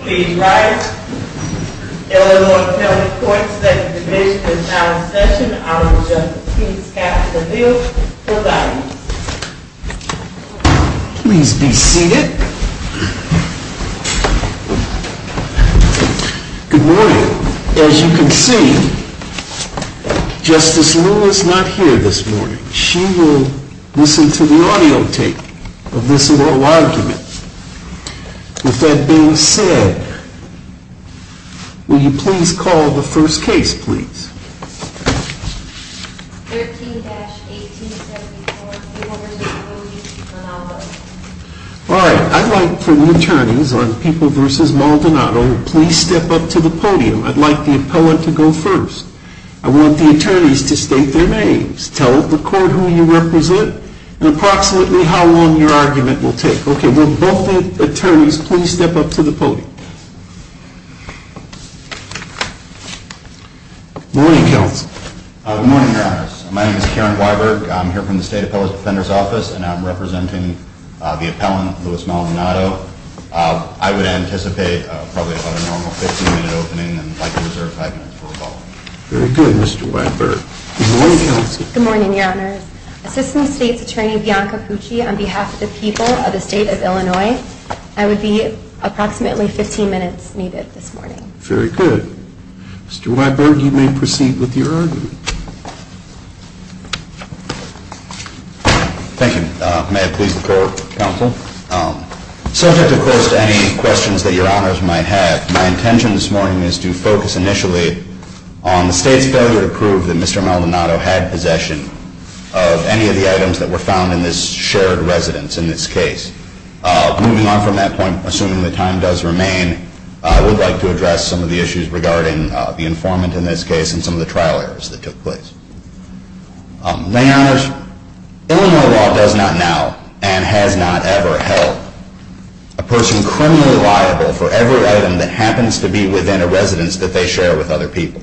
Please rise. Illinois County Court Second Division is now in session. I will just please have the bill provided. Please be seated. Good morning. As you can see, Justice Lewis is not here this morning. She will listen to the audio tape of this little argument. With that being said, will you please call the first case, please? 13-1874, People v. Maldonado All right. I'd like for the attorneys on People v. Maldonado to please step up to the podium. I'd like the appellant to go first. I want the attorneys to state their names, tell the court who you represent, and approximately how long your argument will take. Will both attorneys please step up to the podium? Good morning, Counsel. Good morning, Your Honors. My name is Karen Weiberg. I'm here from the State Appellant Defender's Office, and I'm representing the appellant, Lewis Maldonado. I would anticipate probably about a normal 15-minute opening, and I'd like to reserve five minutes for rebuttal. Very good, Mr. Weiberg. Good morning, Counsel. Good morning, Your Honors. Assistant State's Attorney Bianca Pucci on behalf of the people of the State of Illinois. I would be approximately 15 minutes needed this morning. Very good. Mr. Weiberg, you may proceed with your argument. Thank you. May it please the court, Counsel. Subject, of course, to any questions that Your Honors might have, my intention this morning is to focus initially on the State's failure to prove that Mr. Maldonado had possession of any of the items that were found in this shared residence, in this case. Moving on from that point, assuming the time does remain, I would like to address some of the issues regarding the informant in this case and some of the trial errors that took place. My Honors, Illinois law does not now and has not ever held a person criminally liable for every item that happens to be within a residence that they share with other people.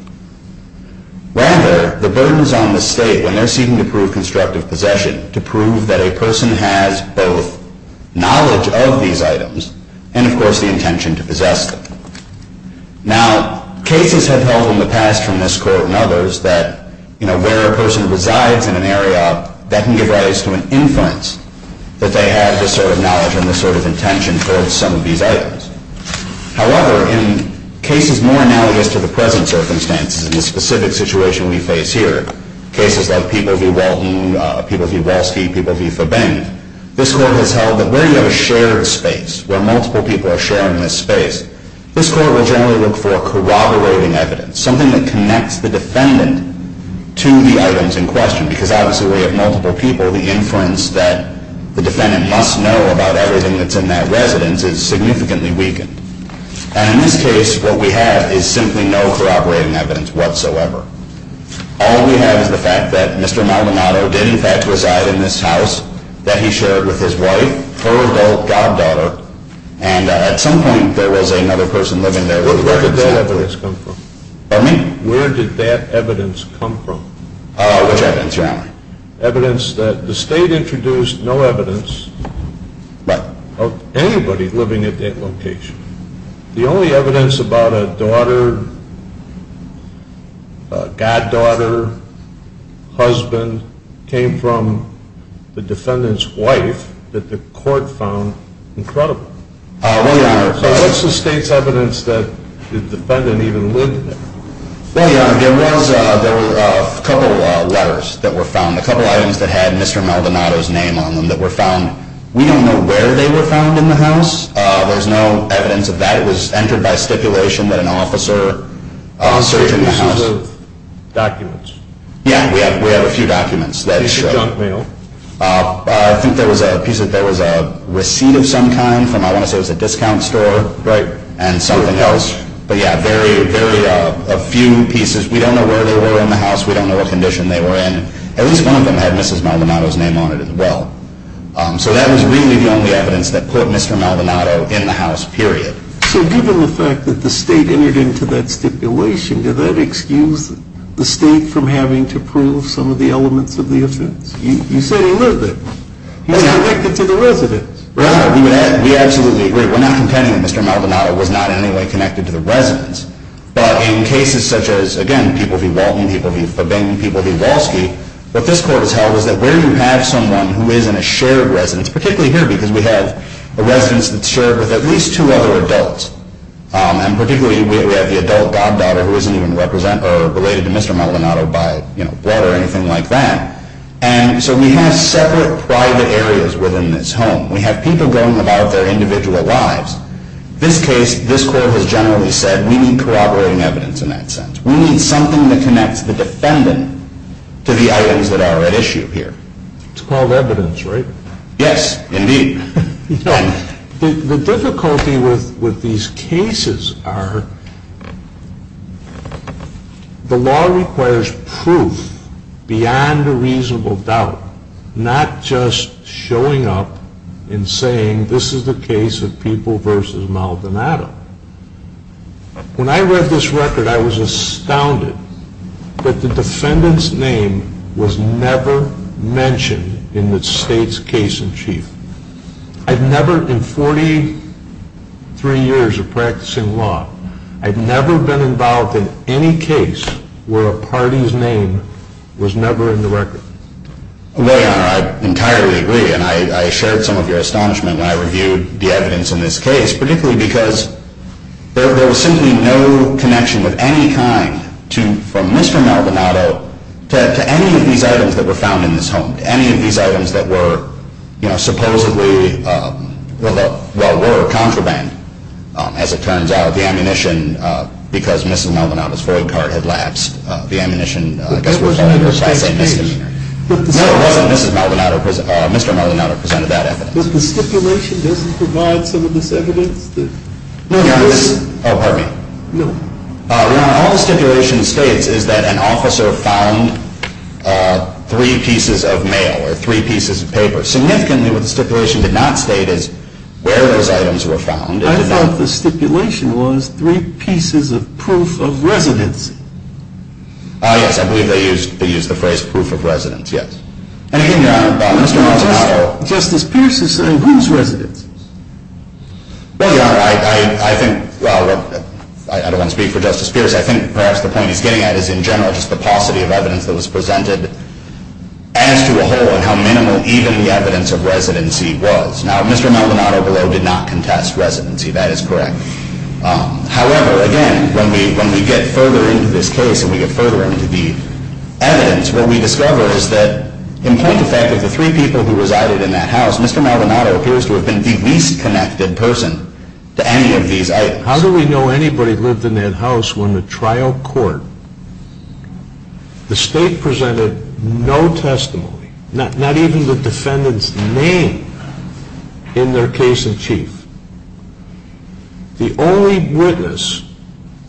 Rather, the burden is on the State when they're seeking to prove constructive possession to prove that a person has both knowledge of these items and, of course, the intention to possess them. Now, cases have held in the past from this Court and others that, you know, where a person resides in an area, that can give rise to an inference that they have this sort of knowledge and this sort of intention towards some of these items. However, in cases more analogous to the present circumstances, in this specific situation we face here, cases like People v. Walton, People v. Walsky, People v. Fabeng, this Court has held that where you have a shared space, where multiple people are sharing this space, this Court will generally look for corroborating evidence, something that connects the defendant to the items in question. Because obviously we have multiple people, the inference that the defendant must know about everything that's in that residence is significantly weakened. And in this case, what we have is simply no corroborating evidence whatsoever. All we have is the fact that Mr. Maldonado did in fact reside in this house that he shared with his wife, her adult goddaughter, and at some point there was another person living there. Where did that evidence come from? Pardon me? Where did that evidence come from? Which evidence, Your Honor? Evidence that the State introduced no evidence of anybody living at that location. The only evidence about a daughter, goddaughter, husband, came from the defendant's wife that the Court found incredible. What's the State's evidence that the defendant even lived there? Well, Your Honor, there was a couple of letters that were found, a couple of items that had Mr. Maldonado's name on them that were found. We don't know where they were found in the house. There's no evidence of that. It was entered by stipulation that an officer searched the house. There were pieces of documents. Yeah, we have a few documents. A piece of junk mail. I think there was a receipt of some kind from, I want to say it was a discount store. Right. And something else. But yeah, a few pieces. We don't know where they were in the house. We don't know what condition they were in. At least one of them had Mrs. Maldonado's name on it as well. So that was really the only evidence that put Mr. Maldonado in the house, period. So given the fact that the State entered into that stipulation, did that excuse the State from having to prove some of the elements of the offense? You said he lived there. He was connected to the residence. Right. We absolutely agree. We're not contending that Mr. Maldonado was not in any way connected to the residence. But in cases such as, again, people v. Walton, people v. Fabin, people v. Walsky, what this court has held is that where you have someone who is in a shared residence, particularly here because we have a residence that's shared with at least two other adults, and particularly we have the adult goddaughter who isn't even related to Mr. Maldonado by blood or anything like that. And so we have separate private areas within this home. We have people going about their individual lives. So if you take a look at what Mr. Maldonado was doing, and you look at his house, this case, this court has generally said we need corroborating evidence in that sense. We need something that connects the defendant to the items that are at issue here. It's called evidence, right? Yes, indeed. The difficulty with these cases are the law requires proof beyond a reasonable doubt, not just showing up and saying this is the case of People v. Maldonado. When I read this record, I was astounded that the defendant's name was never mentioned in the state's case in chief. I've never, in 43 years of practicing law, I've never been involved in any case where a party's name was never in the record. Well, Your Honor, I entirely agree, and I shared some of your astonishment when I reviewed the evidence in this case, particularly because there was simply no connection of any kind from Mr. Maldonado to any of these items that were found in this home, to any of these items that were supposedly, well, were a contraband, as it turns out. Not the ammunition, because Mrs. Maldonado's void card had lapsed, the ammunition, I guess we're calling it a misdemeanor. No, it wasn't Mrs. Maldonado, Mr. Maldonado presented that evidence. But the stipulation doesn't provide some of this evidence that… No, Your Honor. Oh, pardon me. No. Your Honor, all the stipulation states is that an officer found three pieces of mail or three pieces of paper. Significantly, what the stipulation did not state is where those items were found. I thought the stipulation was three pieces of proof of residency. Ah, yes, I believe they used the phrase proof of residence, yes. And again, Your Honor, Justice Pierce is saying whose residency? Well, Your Honor, I think, well, I don't want to speak for Justice Pierce, I think perhaps the point he's getting at is in general just the paucity of evidence that was presented as to a whole and how minimal even the evidence of residency was. Now, Mr. Maldonado below did not contest residency, that is correct. However, again, when we get further into this case and we get further into the evidence, what we discover is that in point of fact of the three people who resided in that house, Mr. Maldonado appears to have been the least connected person to any of these items. How do we know anybody lived in that house when the trial court, the state presented no testimony, not even the defendant's name in their case in chief. The only witness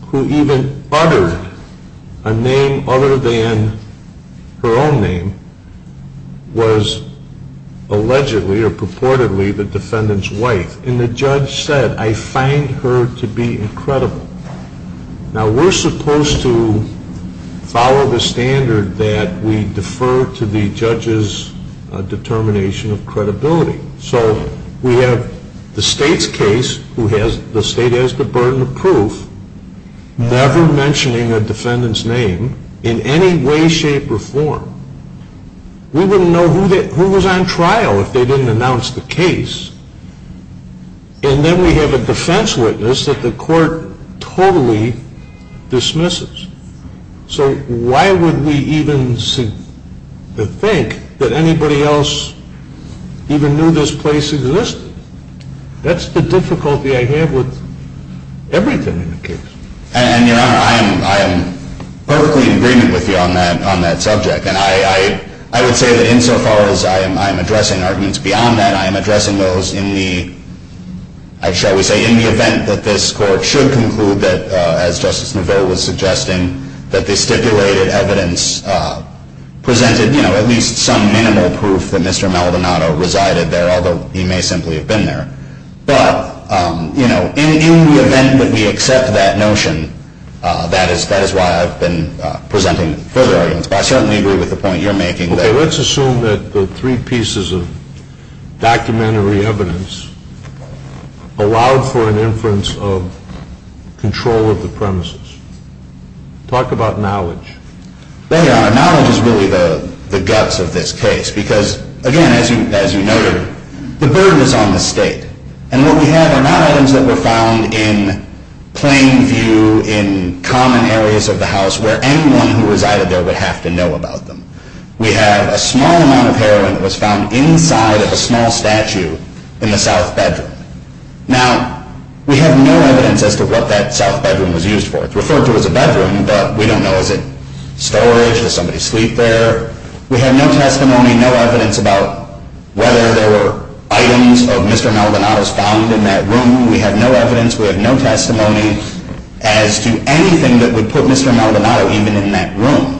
who even uttered a name other than her own name was allegedly or purportedly the defendant's wife. And the judge said, I find her to be incredible. Now, we're supposed to follow the standard that we defer to the judge's determination of credibility. So we have the state's case, the state has the burden of proof, never mentioning a defendant's name in any way, shape, or form. We wouldn't know who was on trial if they didn't announce the case. And then we have a defense witness that the court totally dismisses. So why would we even think that anybody else even knew this place existed? That's the difficulty I have with everything in the case. And, Your Honor, I am perfectly in agreement with you on that subject. And I would say that insofar as I am addressing arguments beyond that, I am addressing those in the, shall we say, in the event that this court should conclude that, as Justice Neville was suggesting, that the stipulated evidence presented at least some minimal proof that Mr. Maldonado resided there, although he may simply have been there. But in the event that we accept that notion, that is why I've been presenting further arguments. I certainly agree with the point you're making. Okay, let's assume that the three pieces of documentary evidence allowed for an inference of control of the premises. Talk about knowledge. There you are. Knowledge is really the guts of this case because, again, as you noted, the burden is on the state. And what we have are not items that were found in plain view in common areas of the house where anyone who resided there would have to know about them. We have a small amount of heroin that was found inside of a small statue in the south bedroom. Now, we have no evidence as to what that south bedroom was used for. It's referred to as a bedroom, but we don't know. Is it storage? Does somebody sleep there? We have no testimony, no evidence about whether there were items of Mr. Maldonado's found in that room. We have no evidence. We have no testimony as to anything that would put Mr. Maldonado even in that room.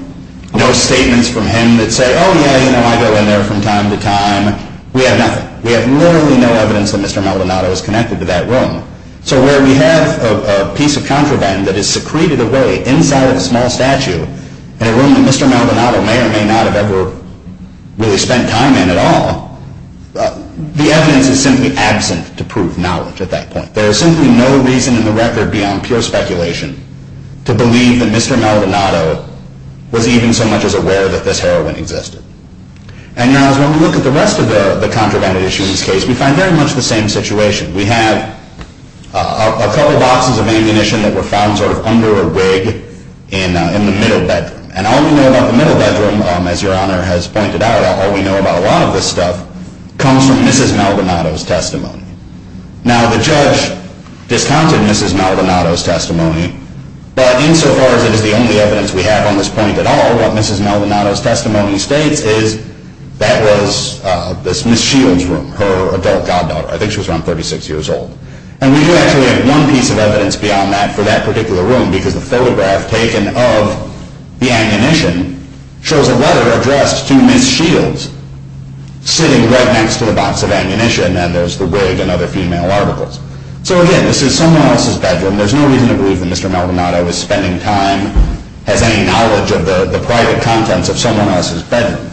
No statements from him that say, oh, yeah, you know, I go in there from time to time. We have nothing. We have literally no evidence that Mr. Maldonado is connected to that room. So where we have a piece of contraband that is secreted away inside of a small statue in a room that Mr. Maldonado may or may not have ever really spent time in at all, the evidence is simply absent to prove knowledge at that point. There is simply no reason in the record beyond pure speculation to believe that Mr. Maldonado was even so much as aware that this heroin existed. And when we look at the rest of the contraband issues in this case, we find very much the same situation. We have a couple boxes of ammunition that were found sort of under a wig in the middle bedroom. And all we know about the middle bedroom, as Your Honor has pointed out, all we know about a lot of this stuff comes from Mrs. Maldonado's testimony. Now, the judge discounted Mrs. Maldonado's testimony, but insofar as it is the only evidence we have on this point at all, what Mrs. Maldonado's testimony states is that was Ms. Shields' room, her adult goddaughter. I think she was around 36 years old. And we do actually have one piece of evidence beyond that for that particular room, because the photograph taken of the ammunition shows a letter addressed to Ms. Shields sitting right next to the box of ammunition, and there's the wig and other female articles. So again, this is someone else's bedroom. There's no reason to believe that Mr. Maldonado is spending time, has any knowledge of the private contents of someone else's bedroom.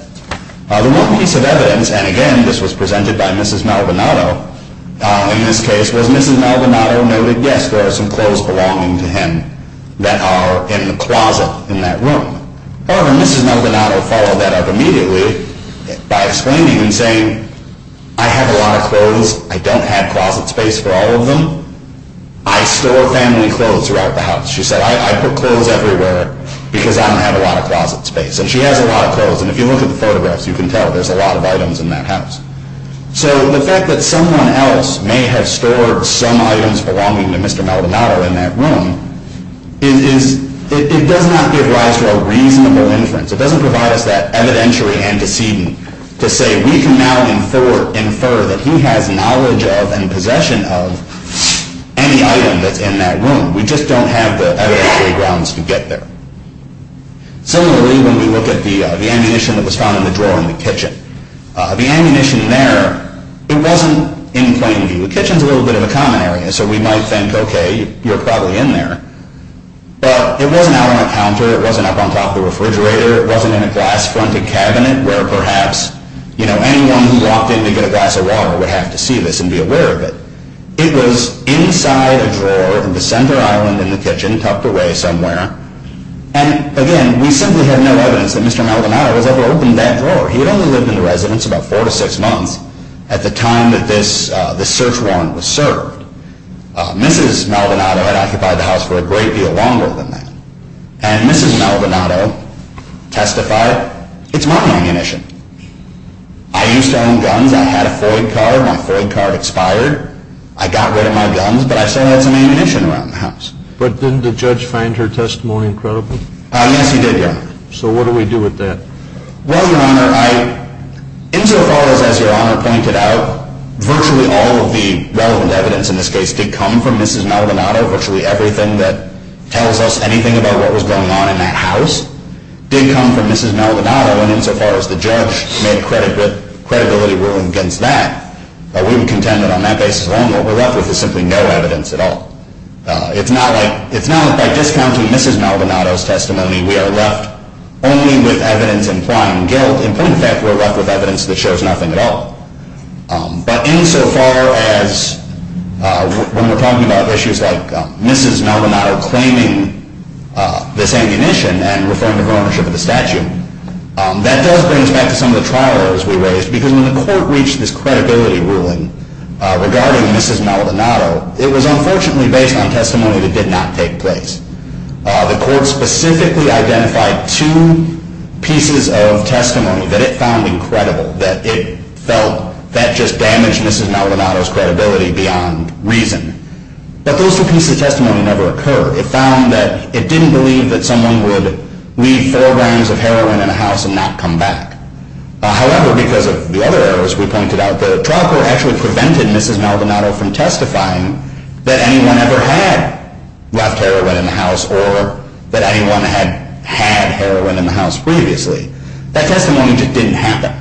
The one piece of evidence, and again, this was presented by Mrs. Maldonado in this case, was Mrs. Maldonado noted, yes, there are some clothes belonging to him that are in the closet in that room. However, Mrs. Maldonado followed that up immediately by explaining and saying, I have a lot of clothes. I don't have closet space for all of them. I store family clothes throughout the house. She said, I put clothes everywhere because I don't have a lot of closet space. And she has a lot of clothes. And if you look at the photographs, you can tell there's a lot of items in that house. So the fact that someone else may have stored some items belonging to Mr. Maldonado in that room, it does not give rise to a reasonable inference. It doesn't provide us that evidentiary antecedent to say we can now infer that he has knowledge of and possession of any item that's in that room. We just don't have the evidentiary grounds to get there. Similarly, when we look at the ammunition that was found in the drawer in the kitchen, the ammunition there, it wasn't in plain view. The kitchen's a little bit of a common area, so we might think, okay, you're probably in there. But it wasn't out on a counter. It wasn't up on top of the refrigerator. It wasn't in a glass-fronted cabinet where perhaps anyone who walked in to get a glass of water would have to see this and be aware of it. It was inside a drawer in the center island in the kitchen tucked away somewhere. And again, we simply have no evidence that Mr. Maldonado has ever opened that drawer. He had only lived in the residence about four to six months at the time that this search warrant was served. Mrs. Maldonado had occupied the house for a great deal longer than that. And Mrs. Maldonado testified, it's my ammunition. I used to own guns. I had a Ford car. My Ford car had expired. I got rid of my guns, but I still had some ammunition around the house. But didn't the judge find her testimony incredible? Yes, he did, Your Honor. So what do we do with that? Well, Your Honor, insofar as Your Honor pointed out, virtually all of the relevant evidence in this case did come from Mrs. Maldonado. Virtually everything that tells us anything about what was going on in that house did come from Mrs. Maldonado. And insofar as the judge made a credibility ruling against that, we would contend that on that basis alone what we're left with is simply no evidence at all. It's not like by discounting Mrs. Maldonado's testimony we are left only with evidence implying guilt. In point of fact, we're left with evidence that shows nothing at all. But insofar as when we're talking about issues like Mrs. Maldonado claiming this ammunition and referring to her ownership of the statue, that does bring us back to some of the trial errors we raised because when the court reached this credibility ruling regarding Mrs. Maldonado, it was unfortunately based on testimony that did not take place. The court specifically identified two pieces of testimony that it found incredible, that it felt that just damaged Mrs. Maldonado's credibility beyond reason. But those two pieces of testimony never occurred. It found that it didn't believe that someone would leave four grams of heroin in a house and not come back. However, because of the other errors we pointed out, the trial court actually prevented Mrs. Maldonado from testifying that anyone ever had left heroin in the house or that anyone had had heroin in the house previously. That testimony just didn't happen.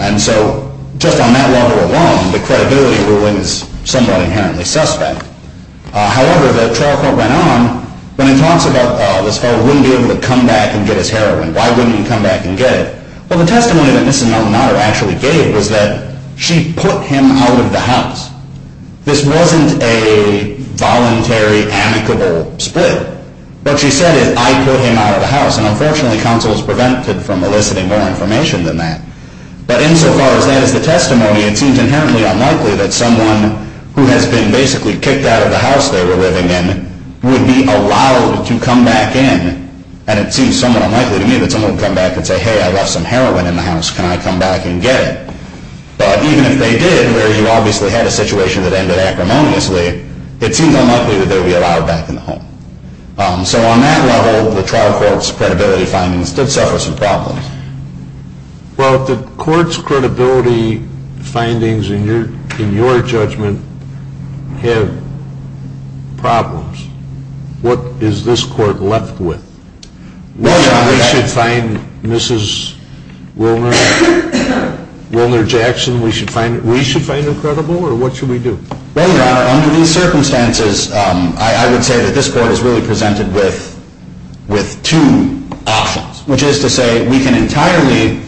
And so just on that level alone, the credibility ruling is somewhat inherently suspect. However, the trial court went on. When it talks about this fellow wouldn't be able to come back and get his heroin, why wouldn't he come back and get it? Well, the testimony that Mrs. Maldonado actually gave was that she put him out of the house. This wasn't a voluntary amicable split. What she said is, I put him out of the house. And unfortunately, counsel is prevented from eliciting more information than that. But insofar as that is the testimony, it seems inherently unlikely that someone who has been basically kicked out of the house they were living in would be allowed to come back in. And it seems somewhat unlikely to me that someone would come back and say, hey, I left some heroin in the house, can I come back and get it? But even if they did, where you obviously had a situation that ended acrimoniously, it seems unlikely that they would be allowed back in the home. So on that level, the trial court's credibility findings did suffer some problems. Well, the court's credibility findings in your judgment have problems. What is this court left with? We should find Mrs. Wilner Jackson, we should find her credible, or what should we do? Well, Your Honor, under these circumstances, I would say that this court is really presented with two options, which is to say we can entirely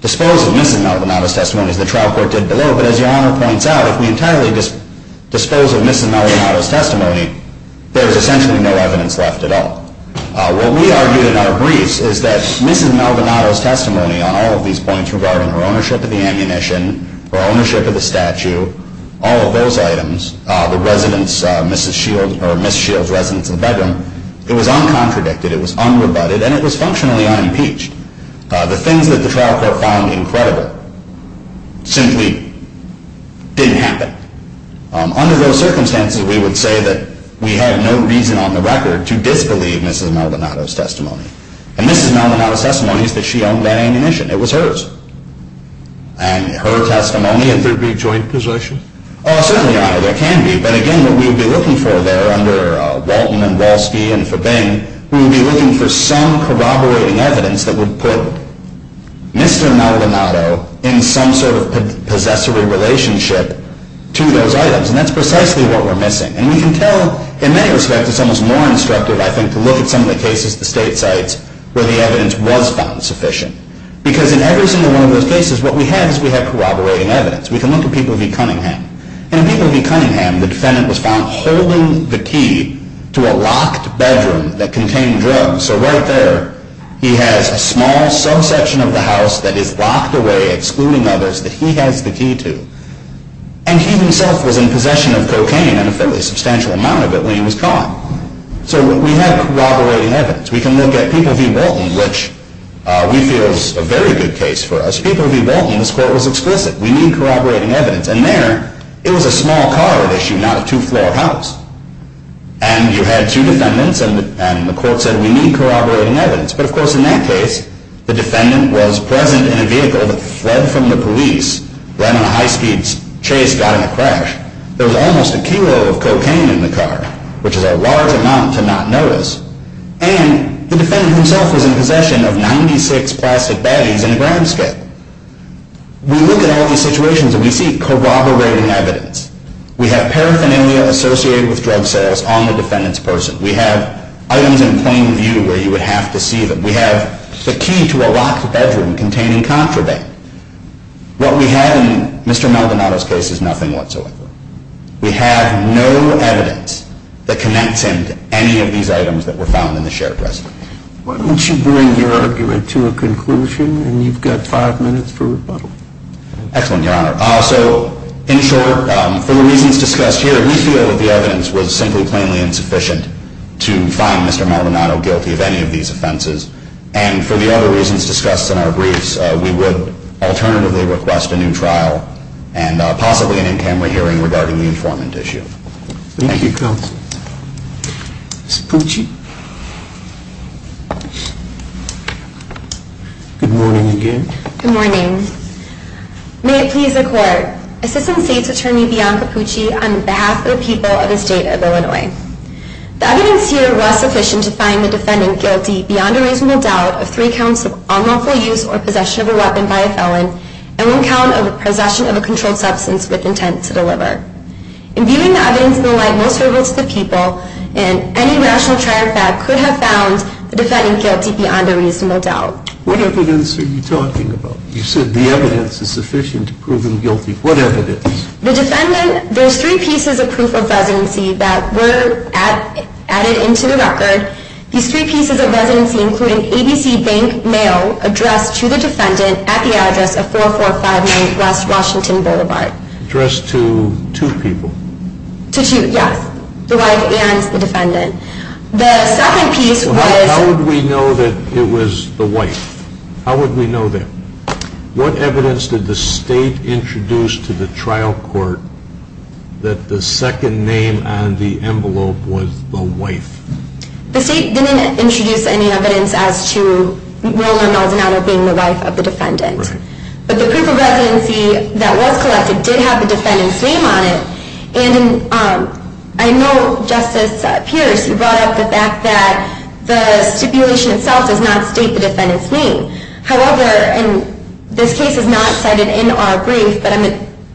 dispose of Mrs. Maldonado's testimony, as the trial court did below, but as Your Honor points out, if we entirely dispose of Mrs. Maldonado's testimony, there is essentially no evidence left at all. What we argued in our briefs is that Mrs. Maldonado's testimony on all of these points regarding her ownership of the ammunition, her ownership of the statue, all of those items, the residents, Mrs. Shields' residents in the bedroom, it was uncontradicted, it was unrebutted, and it was functionally unimpeached. The things that the trial court found incredible simply didn't happen. Under those circumstances, we would say that we have no reason on the record to disbelieve Mrs. Maldonado's testimony. And Mrs. Maldonado's testimony is that she owned that ammunition. It was hers. And her testimony... Could there be joint possession? Oh, certainly, Your Honor, there can be. But again, what we would be looking for there under Walton and Wolski and Fabeng, we would be looking for some corroborating evidence that would put Mr. Maldonado in some sort of possessory relationship to those items. And that's precisely what we're missing. And we can tell, in many respects, it's almost more instructive, I think, to look at some of the cases, the state sites, where the evidence was found sufficient. Because in every single one of those cases, what we have is we have corroborating evidence. We can look at People v. Cunningham. In People v. Cunningham, the defendant was found holding the key to a locked bedroom that contained drugs. So right there, he has a small subsection of the house that is locked away, excluding others, that he has the key to. And he himself was in possession of cocaine, and a fairly substantial amount of it, when he was gone. So we have corroborating evidence. We can look at People v. Bolton, which we feel is a very good case for us. People v. Bolton, this court was explicit. We need corroborating evidence. And there, it was a small car at issue, not a two-floor house. And you had two defendants, and the court said, we need corroborating evidence. But, of course, in that case, the defendant was present in a vehicle that fled from the police, ran on a high-speed chase, got in a crash. There was almost a kilo of cocaine in the car, which is a large amount to not notice. And the defendant himself was in possession of 96 plastic baddies in a grand scale. We look at all these situations, and we see corroborating evidence. We have paraphernalia associated with drug sales on the defendant's person. We have items in plain view where you would have to see them. We have the key to a locked bedroom containing contraband. What we have in Mr. Maldonado's case is nothing whatsoever. We have no evidence that connects him to any of these items that were found in the shared dressing room. Why don't you bring your argument to a conclusion, and you've got five minutes for rebuttal. Excellent, Your Honor. Also, in short, for the reasons discussed here, we feel that the evidence was simply plainly insufficient to find Mr. Maldonado guilty of any of these offenses. And for the other reasons discussed in our briefs, we would alternatively request a new trial and possibly an in-camera hearing regarding the informant issue. Thank you, Counsel. Ms. Pucci. Good morning again. Good morning. May it please the Court, Assistant State's Attorney, Bianca Pucci, on behalf of the people of the State of Illinois. The evidence here was sufficient to find the defendant guilty beyond a reasonable doubt of three counts of unlawful use or possession of a weapon by a felon and one count of possession of a controlled substance with intent to deliver. In viewing the evidence in the light most favorable to the people, any rational trial fact could have found the defendant guilty beyond a reasonable doubt. What evidence are you talking about? You said the evidence is sufficient to prove him guilty. What evidence? The defendant, there's three pieces of proof of residency that were added into the record. These three pieces of residency include an ABC bank mail addressed to the defendant at the address of 4459 West Washington Boulevard. Addressed to two people? To two, yes. The wife and the defendant. The second piece was... How would we know that it was the wife? How would we know that? What evidence did the State introduce to the trial court that the second name on the envelope was the wife? The State didn't introduce any evidence as to Roland Maldonado being the wife of the defendant. Right. But the proof of residency that was collected did have the defendant's name on it and I know, Justice Pierce, you brought up the fact that the stipulation itself does not state the defendant's name. However, and this case is not cited in our brief, but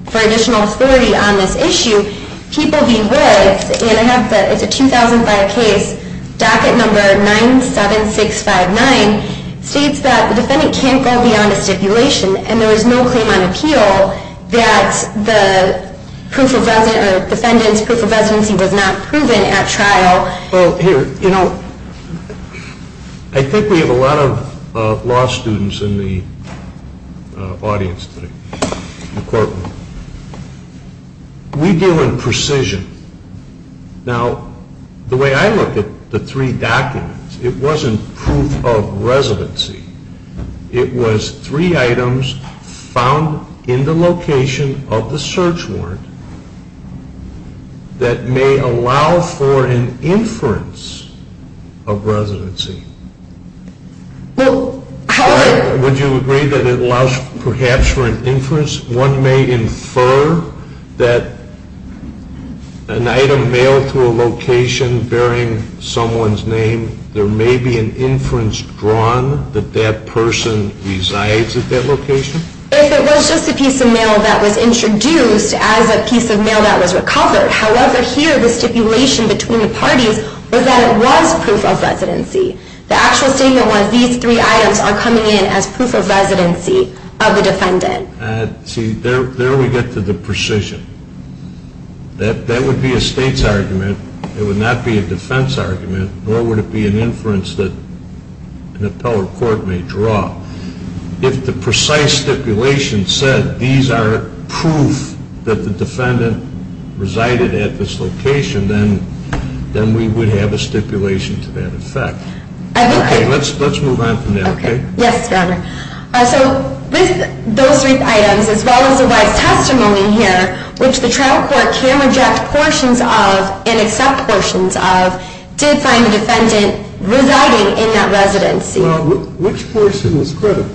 for additional authority on this issue, people beware, and I have the 2005 case, docket number 97659, states that the defendant can't go beyond a stipulation and there is no claim on appeal that the defendant's proof of residency was not proven at trial. Well, here, you know, I think we have a lot of law students in the audience today, in the courtroom. We deal in precision. Now, the way I look at the three documents, it wasn't proof of residency. It was three items found in the location of the search warrant that may allow for an inference of residency. Well, how would you agree that it allows perhaps for an inference? One may infer that an item mailed to a location bearing someone's name, there may be an inference drawn that that person resides at that location? If it was just a piece of mail that was introduced as a piece of mail that was recovered. However, here, the stipulation between the parties was that it was proof of residency. The actual statement was these three items are coming in as proof of residency of the defendant. See, there we get to the precision. That would be a state's argument. It would not be a defense argument, nor would it be an inference that an appellate court may draw. If the precise stipulation said these are proof that the defendant resided at this location, then we would have a stipulation to that effect. Okay, let's move on from there, okay? Yes, Your Honor. So those three items, as well as the wife's testimony here, which the trial court can reject portions of and accept portions of, did find the defendant residing in that residency. Well, which portion is credible?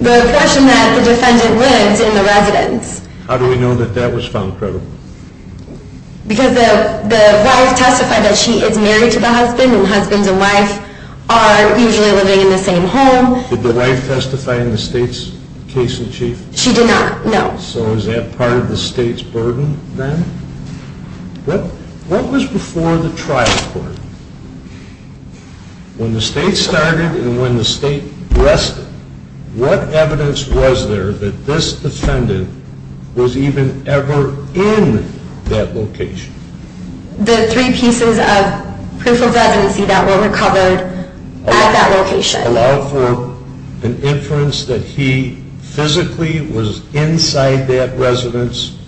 The portion that the defendant lives in the residence. How do we know that that was found credible? Because the wife testified that she is married to the husband, and husband and wife are usually living in the same home. Did the wife testify in the state's case in chief? She did not, no. So is that part of the state's burden then? What was before the trial court? When the state started and when the state rested, what evidence was there that this defendant was even ever in that location? The three pieces of proof of residency that were recovered at that location. Allowed for an inference that he physically was inside that residence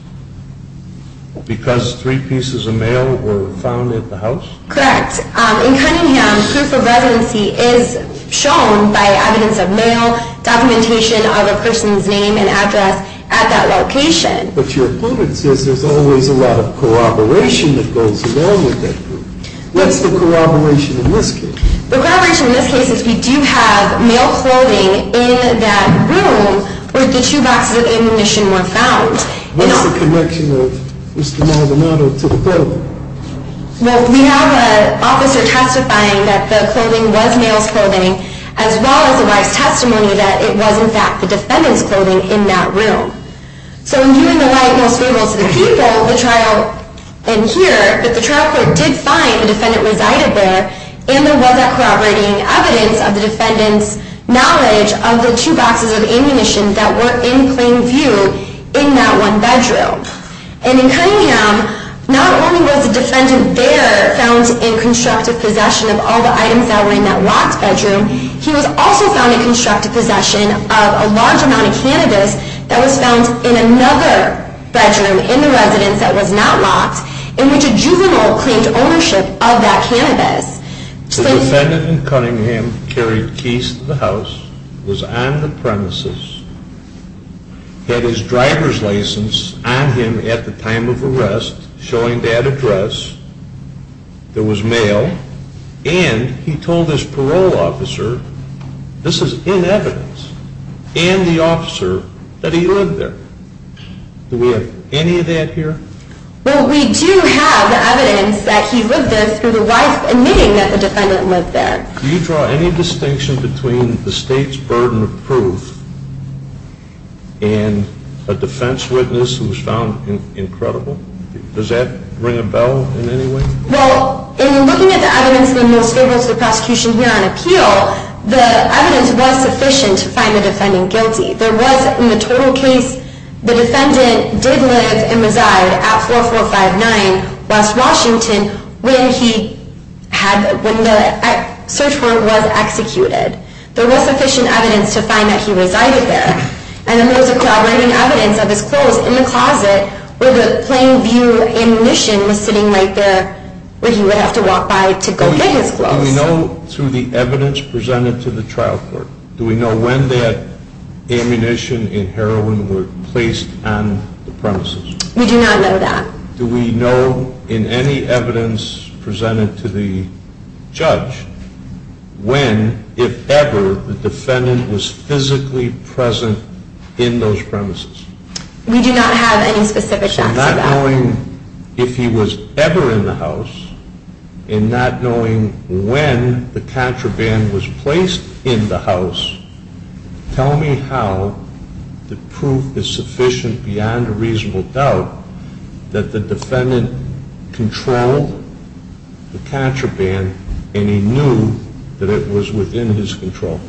because three pieces of mail were found at the house? Correct. In Cunningham, proof of residency is shown by evidence of mail, documentation of a person's name and address at that location. But your opponent says there's always a lot of corroboration that goes along with that proof. What's the corroboration in this case? The corroboration in this case is we do have mail holding in that room where the two boxes of ammunition were found. What's the connection of Mr. Maldonado to the federal? Well, we have an officer testifying that the clothing was mail's clothing as well as the wife's testimony that it was in fact the defendant's clothing in that room. So in doing the right most favorable to the people, the trial in here, that the trial court did find the defendant resided there and there was that corroborating evidence of the defendant's knowledge of the two boxes of ammunition that were in plain view in that one bedroom. And in Cunningham, not only was the defendant there found in constructive possession of all the items that were in that locked bedroom, he was also found in constructive possession of a large amount of cannabis that was found in another bedroom in the residence that was not locked in which a juvenile claimed ownership of that cannabis. The defendant in Cunningham carried keys to the house, was on the premises, had his driver's license on him at the time of arrest showing that address. There was mail and he told his parole officer, this is in evidence, and the officer that he lived there. Do we have any of that here? Well, we do have the evidence that he lived there through the wife admitting that the defendant lived there. Do you draw any distinction between the state's burden of proof and a defense witness who was found incredible? Does that ring a bell in any way? Well, in looking at the evidence we most favor to the prosecution here on appeal, the evidence was sufficient to find the defendant guilty. There was, in the total case, the defendant did live and reside at 4459 West Washington when the search warrant was executed. There was sufficient evidence to find that he resided there. And then there was a corroborating evidence of his clothes in the closet where the plain view ammunition was sitting right there where he would have to walk by to go get his clothes. Do we know through the evidence presented to the trial court, do we know when that ammunition and heroin were placed on the premises? We do not know that. Do we know in any evidence presented to the judge when, if ever, the defendant was physically present in those premises? We do not have any specific facts for that. So not knowing if he was ever in the house and not knowing when the contraband was placed in the house, tell me how the proof is sufficient beyond a reasonable doubt that the defendant controlled the contraband and he knew that it was within his control.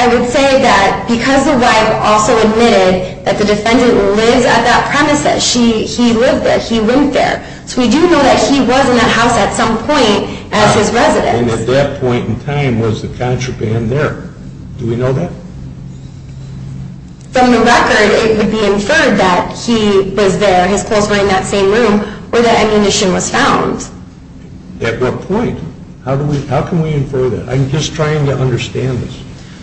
I would say that because the wife also admitted that the defendant lives at that premise, that he lived there, he went there, so we do know that he was in that house at some point as his residence. And at that point in time, was the contraband there? Do we know that? From the record, it would be inferred that he was there, his clothes were in that same room where that ammunition was found. At what point? How can we infer that? I'm just trying to understand this.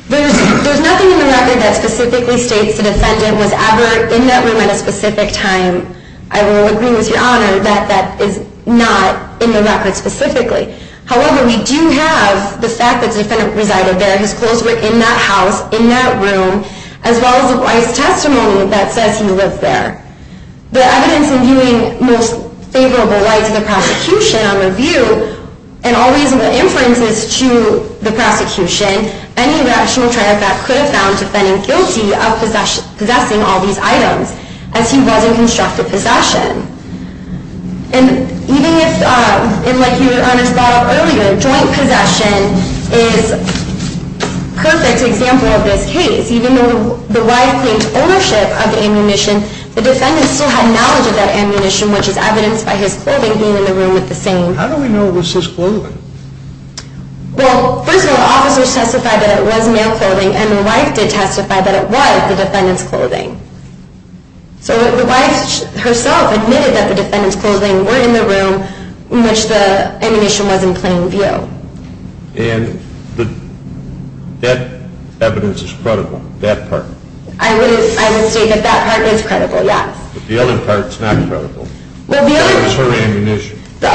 There's nothing in the record that specifically states the defendant was ever in that room at a specific time. I will agree with Your Honor that that is not in the record specifically. However, we do have the fact that the defendant resided there, his clothes were in that house, in that room, as well as the wise testimony that says he lived there. The evidence in viewing most favorable light to the prosecution on the view and all reasonable inferences to the prosecution, any rational trial fact could have found the defendant guilty of possessing all these items as he was in constructive possession. And even if, like Your Honor brought up earlier, joint possession is a perfect example of this case. Even though the wife claimed ownership of the ammunition, the defendant still had knowledge of that ammunition, which is evidenced by his clothing being in the room with the same. How do we know it was his clothing? Well, first of all, officers testified that it was male clothing, and the wife did testify that it was the defendant's clothing. So the wife herself admitted that the defendant's clothing were in the room in which the ammunition was in plain view. And that evidence is credible, that part? I would state that that part is credible, yes. But the other part is not credible. What is her ammunition? The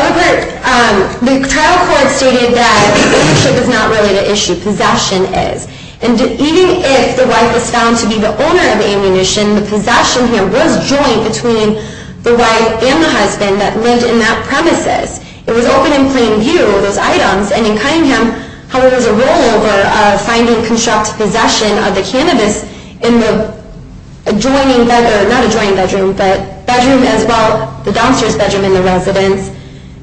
trial court stated that ownership is not really the issue, possession is. And even if the wife was found to be the owner of the ammunition, the possession here was joint between the wife and the husband that lived in that premises. It was open in plain view, those items, and in Cunningham, however, there was a rollover of finding constructive possession of the cannabis in the adjoining bedroom, not adjoining bedroom, but bedroom as well, the downstairs bedroom in the residence.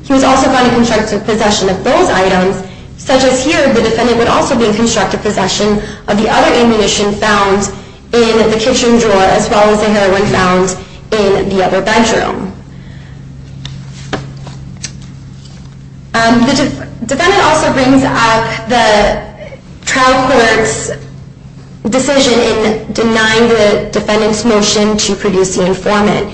He was also found in constructive possession of those items, such as here the defendant would also be in constructive possession of the other ammunition found in the kitchen drawer, as well as the heroin found in the other bedroom. The defendant also brings up the trial court's decision in denying the defendant's motion to produce the informant.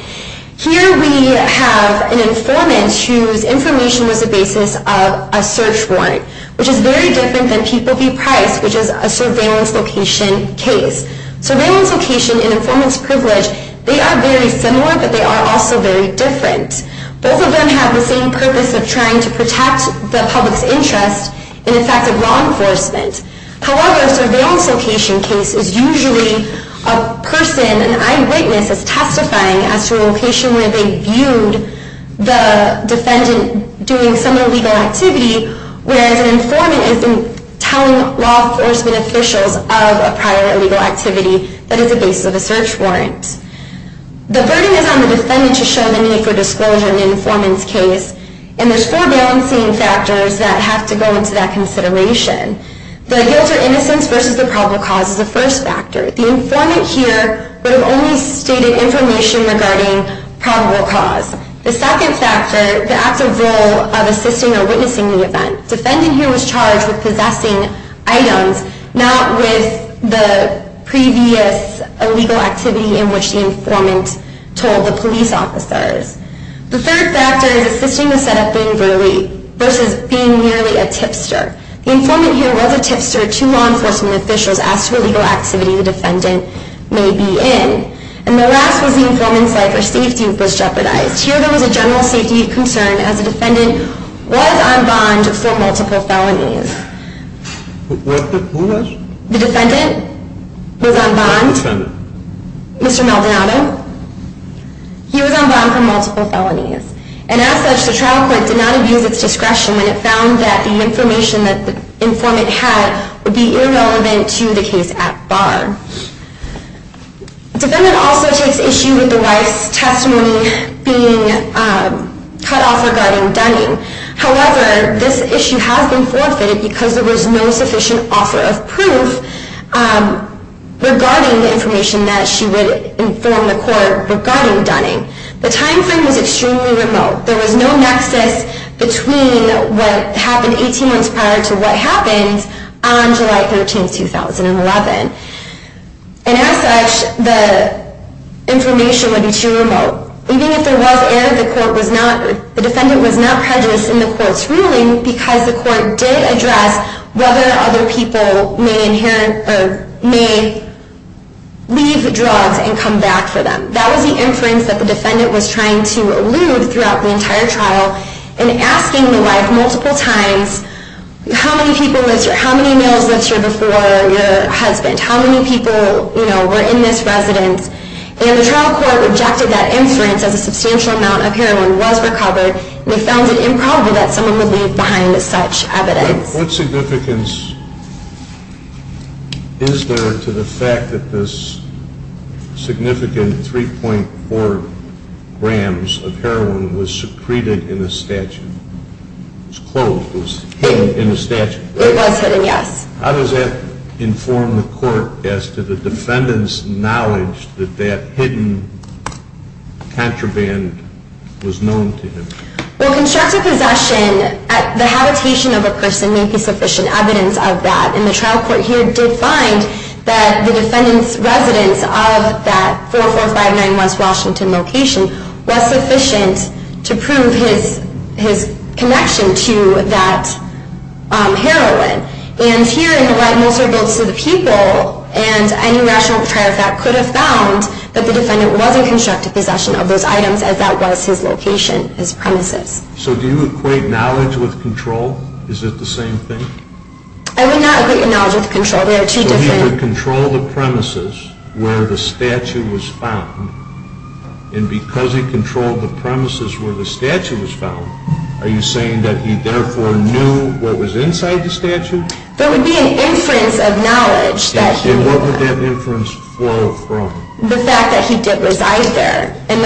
Here we have an informant whose information was the basis of a search warrant, which is very different than People v. Price, which is a surveillance location case. Surveillance location and informant's privilege, they are very similar, but they are also very different. Both of them have the same purpose of trying to protect the public's interest in the facts of law enforcement. However, a surveillance location case is usually a person, an eyewitness is testifying as to a location where they viewed the defendant doing some illegal activity, whereas an informant is telling law enforcement officials of a prior illegal activity that is the basis of a search warrant. The burden is on the defendant to show the need for disclosure in an informant's case, and there's four balancing factors that have to go into that consideration. The guilt or innocence versus the probable cause is the first factor. The informant here would have only stated information regarding probable cause. The second factor, the active role of assisting or witnessing the event. Defendant here was charged with possessing items, not with the previous illegal activity in which the informant told the police officers. The third factor is assisting the setup in Verley versus being merely a tipster. The informant here was a tipster to law enforcement officials as to illegal activity the defendant may be in. And the last was the informant's life or safety was jeopardized. Here there was a general safety concern, as the defendant was on bond for multiple felonies. Who was? The defendant was on bond. The defendant. Mr. Maldonado. He was on bond for multiple felonies. And as such, the trial court did not abuse its discretion when it found that the information that the informant had would be irrelevant to the case at bar. The defendant also takes issue with the wife's testimony being cut off regarding Dunning. However, this issue has been forfeited because there was no sufficient offer of proof regarding the information that she would inform the court regarding Dunning. The time frame was extremely remote. There was no nexus between what happened 18 months prior to what happened on July 13, 2011. And as such, the information would be too remote. Even if there was error, the defendant was not prejudiced in the court's ruling because the court did address whether other people may leave drugs and come back for them. That was the inference that the defendant was trying to elude throughout the entire trial in asking the wife multiple times, how many males lived here before your husband? How many people were in this residence? And the trial court rejected that inference as a substantial amount of heroin was recovered. They found it improbable that someone would leave behind such evidence. What significance is there to the fact that this significant 3.4 grams of heroin was secreted in the statute? It was closed. It was hidden in the statute. It was hidden, yes. How does that inform the court as to the defendant's knowledge that that hidden contraband was known to him? Well, constructive possession at the habitation of a person may be sufficient evidence of that. And the trial court here did find that the defendant's residence of that 4459 West Washington location was sufficient to prove his connection to that heroin. And here, in the right most of the votes to the people, and any rational trial fact could have found that the defendant was in constructive possession of those items as that was his location, his premises. So do you equate knowledge with control? Is it the same thing? I would not equate knowledge with control. So he would control the premises where the statute was found and because he controlled the premises where the statute was found, are you saying that he therefore knew what was inside the statute? There would be an inference of knowledge. And what would that inference flow from? The fact that he did reside there. And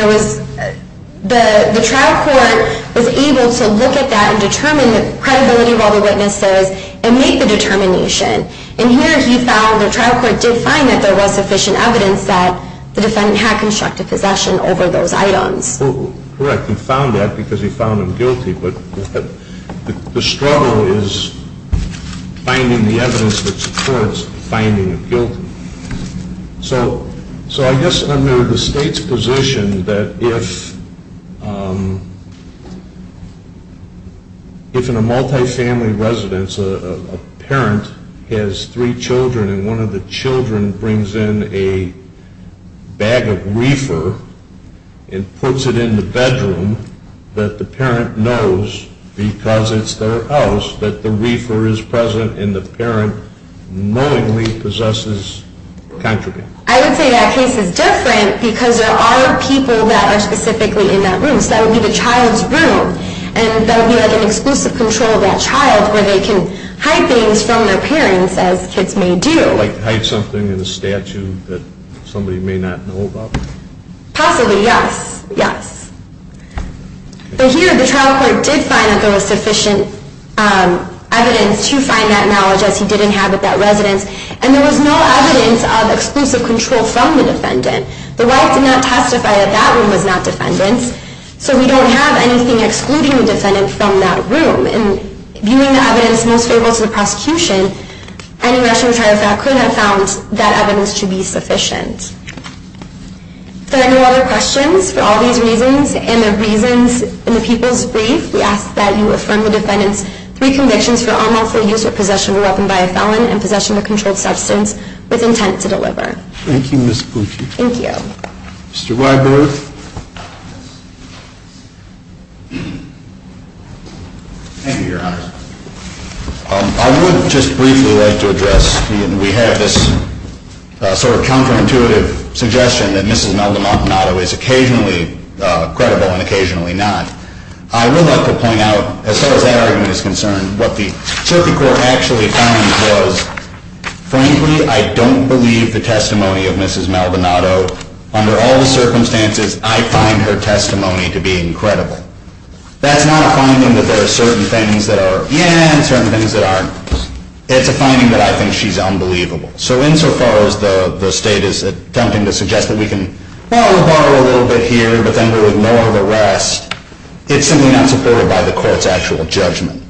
the trial court was able to look at that and determine the credibility of all the witnesses and make the determination. And here he found, the trial court did find that there was sufficient evidence that the defendant had constructive possession over those items. Correct. He found that because he found him guilty. But the struggle is finding the evidence that supports finding him guilty. So I guess under the State's position that if in a multifamily residence a parent has three children and one of the children brings in a bag of reefer and puts it in the bedroom, that the parent knows, because it's their house, that the reefer is present and the parent knowingly possesses the contraband. I would say that case is different because there are people that are specifically in that room. So that would be the child's room. And that would be like an exclusive control of that child where they can hide things from their parents, as kids may do. Like hide something in a statue that somebody may not know about? Possibly, yes. Yes. But here the trial court did find that there was sufficient evidence to find that knowledge as he did inhabit that residence. And there was no evidence of exclusive control from the defendant. The wife did not testify that that room was not defendant's. So we don't have anything excluding the defendant from that room. And viewing the evidence most favorable to the prosecution, any Russian retired felon could have found that evidence to be sufficient. If there are no other questions, for all these reasons and the reasons in the People's Brief, we ask that you affirm the defendant's three convictions for unlawful use or possession of a weapon by a felon and possession of a controlled substance with intent to deliver. Thank you, Ms. Pucci. Thank you. Mr. Weiber. Thank you, Your Honor. I would just briefly like to address, we have this sort of counterintuitive suggestion that Mrs. Maldonado is occasionally credible and occasionally not. I would like to point out, as far as that argument is concerned, what the circuit court actually found was, frankly, I don't believe the testimony of Mrs. Maldonado. Under all the circumstances, I find her testimony to be incredible. That's not a finding that there are certain things that are yeah and certain things that aren't. It's a finding that I think she's unbelievable. So insofar as the State is attempting to suggest that we can, well, we'll borrow a little bit here, but then we would lower the rest, it's simply not supported by the court's actual judgment.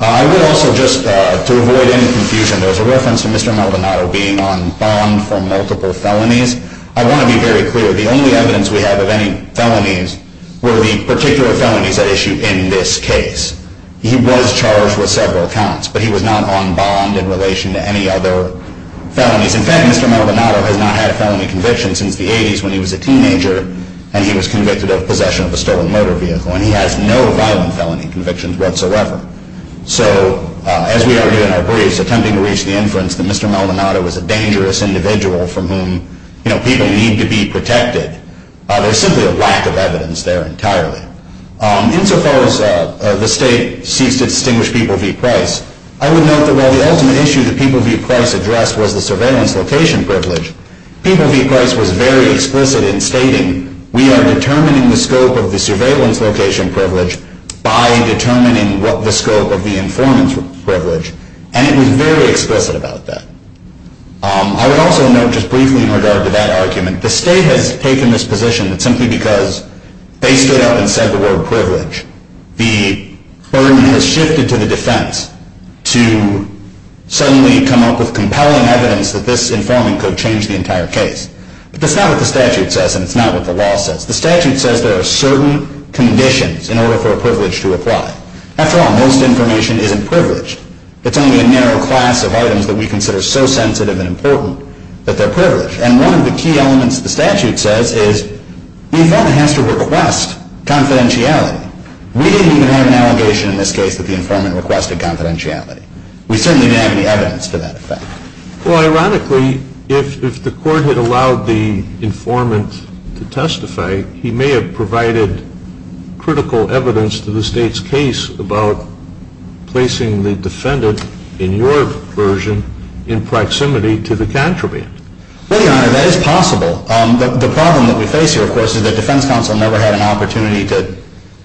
I would also just, to avoid any confusion, there was a reference to Mr. Maldonado being on bond for multiple felonies. I want to be very clear. The only evidence we have of any felonies were the particular felonies at issue in this case. He was charged with several counts, but he was not on bond in relation to any other felonies. In fact, Mr. Maldonado has not had a felony conviction since the 80s when he was a teenager, and he was convicted of possession of a stolen motor vehicle, and he has no violent felony convictions whatsoever. So, as we argue in our briefs, attempting to reach the inference that Mr. Maldonado was a dangerous individual from whom people need to be protected, there's simply a lack of evidence there entirely. Insofar as the state seeks to distinguish People v. Price, I would note that while the ultimate issue that People v. Price addressed was the surveillance location privilege, People v. Price was very explicit in stating we are determining the scope of the surveillance location privilege by determining the scope of the informant's privilege, and it was very explicit about that. I would also note, just briefly in regard to that argument, the state has taken this position that simply because they stood up and said the word privilege, the burden has shifted to the defense to suddenly come up with compelling evidence that this informant could change the entire case. But that's not what the statute says, and it's not what the law says. The statute says there are certain conditions in order for a privilege to apply. After all, most information isn't privileged. that we consider so sensitive and important that they're privileged. And one of the key elements the statute says is the informant has to request confidentiality. We didn't even have an allegation in this case that the informant requested confidentiality. We certainly didn't have any evidence for that effect. Well, ironically, if the court had allowed the informant to testify, he may have provided critical evidence to the state's case about placing the defendant, in your version, in proximity to the contraband. Well, Your Honor, that is possible. The problem that we face here, of course, is the defense counsel never had an opportunity to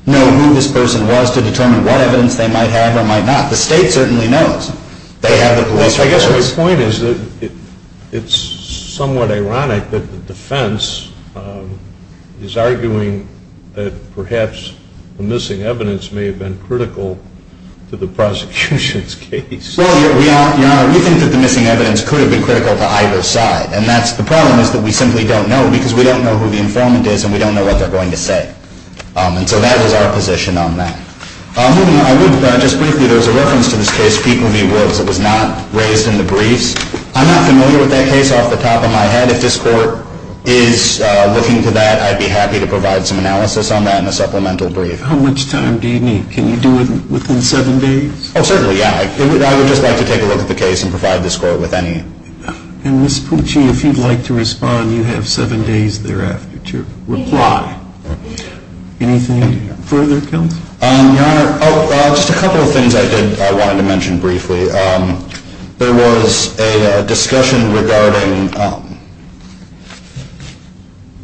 know who this person was to determine what evidence they might have or might not. The state certainly knows they have the police records. I guess my point is that it's somewhat ironic that the defense is arguing that perhaps the missing evidence may have been critical to the prosecution's case. Well, Your Honor, we think that the missing evidence could have been critical to either side. And the problem is that we simply don't know because we don't know who the informant is and we don't know what they're going to say. And so that is our position on that. Moving on, I would, just briefly, there was a reference to this case, People v. Woods, that was not raised in the briefs. I'm not familiar with that case off the top of my head. If this court is looking to that, I'd be happy to provide some analysis on that in a supplemental brief. How much time do you need? Can you do it within seven days? Oh, certainly, yeah. I would just like to take a look at the case and provide this court with any... And, Ms. Pucci, if you'd like to respond, you have seven days thereafter to reply. Anything further, Counsel? Your Honor, oh, just a couple of things I wanted to mention briefly. There was a discussion regarding...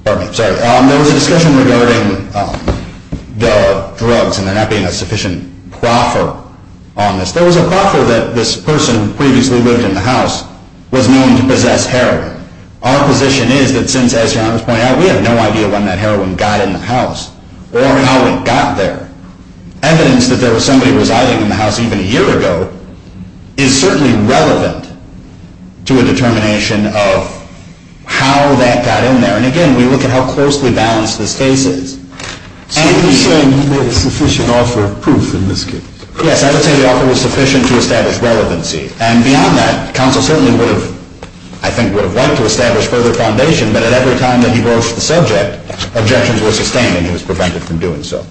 Pardon me, sorry. There was a discussion regarding the drugs and there not being a sufficient proffer on this. There was a proffer that this person who previously lived in the house was known to possess heroin. Our position is that since, as Your Honor has pointed out, we have no idea when that heroin got in the house or how it got there. Evidence that there was somebody residing in the house even a year ago is certainly relevant to a determination of how that got in there. And, again, we look at how closely balanced this case is. So you're saying he made a sufficient offer of proof in this case? Yes, I would say the offer was sufficient to establish relevancy. And beyond that, Counsel certainly would have, I think, would have liked to establish further foundation, but at every time that he broached the subject, objections were sustained and he was prevented from doing so.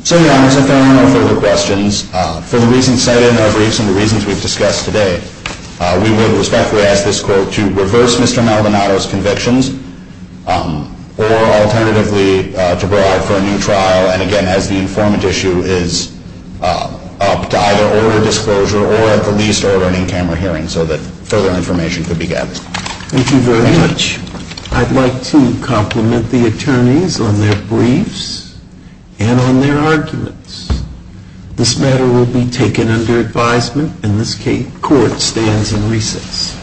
So, Your Honor, as I throw in no further questions, for the reasons cited in our briefs and the reasons we've discussed today, we would respectfully ask this court to reverse Mr. Maldonado's convictions or, alternatively, to bribe for a new trial. And, again, as the informant issue is up, to either order disclosure or at the least order an in-camera hearing so that further information could be gathered. Thank you very much. I'd like to compliment the attorneys on their briefs and on their arguments. This matter will be taken under advisement and this court stands in recess.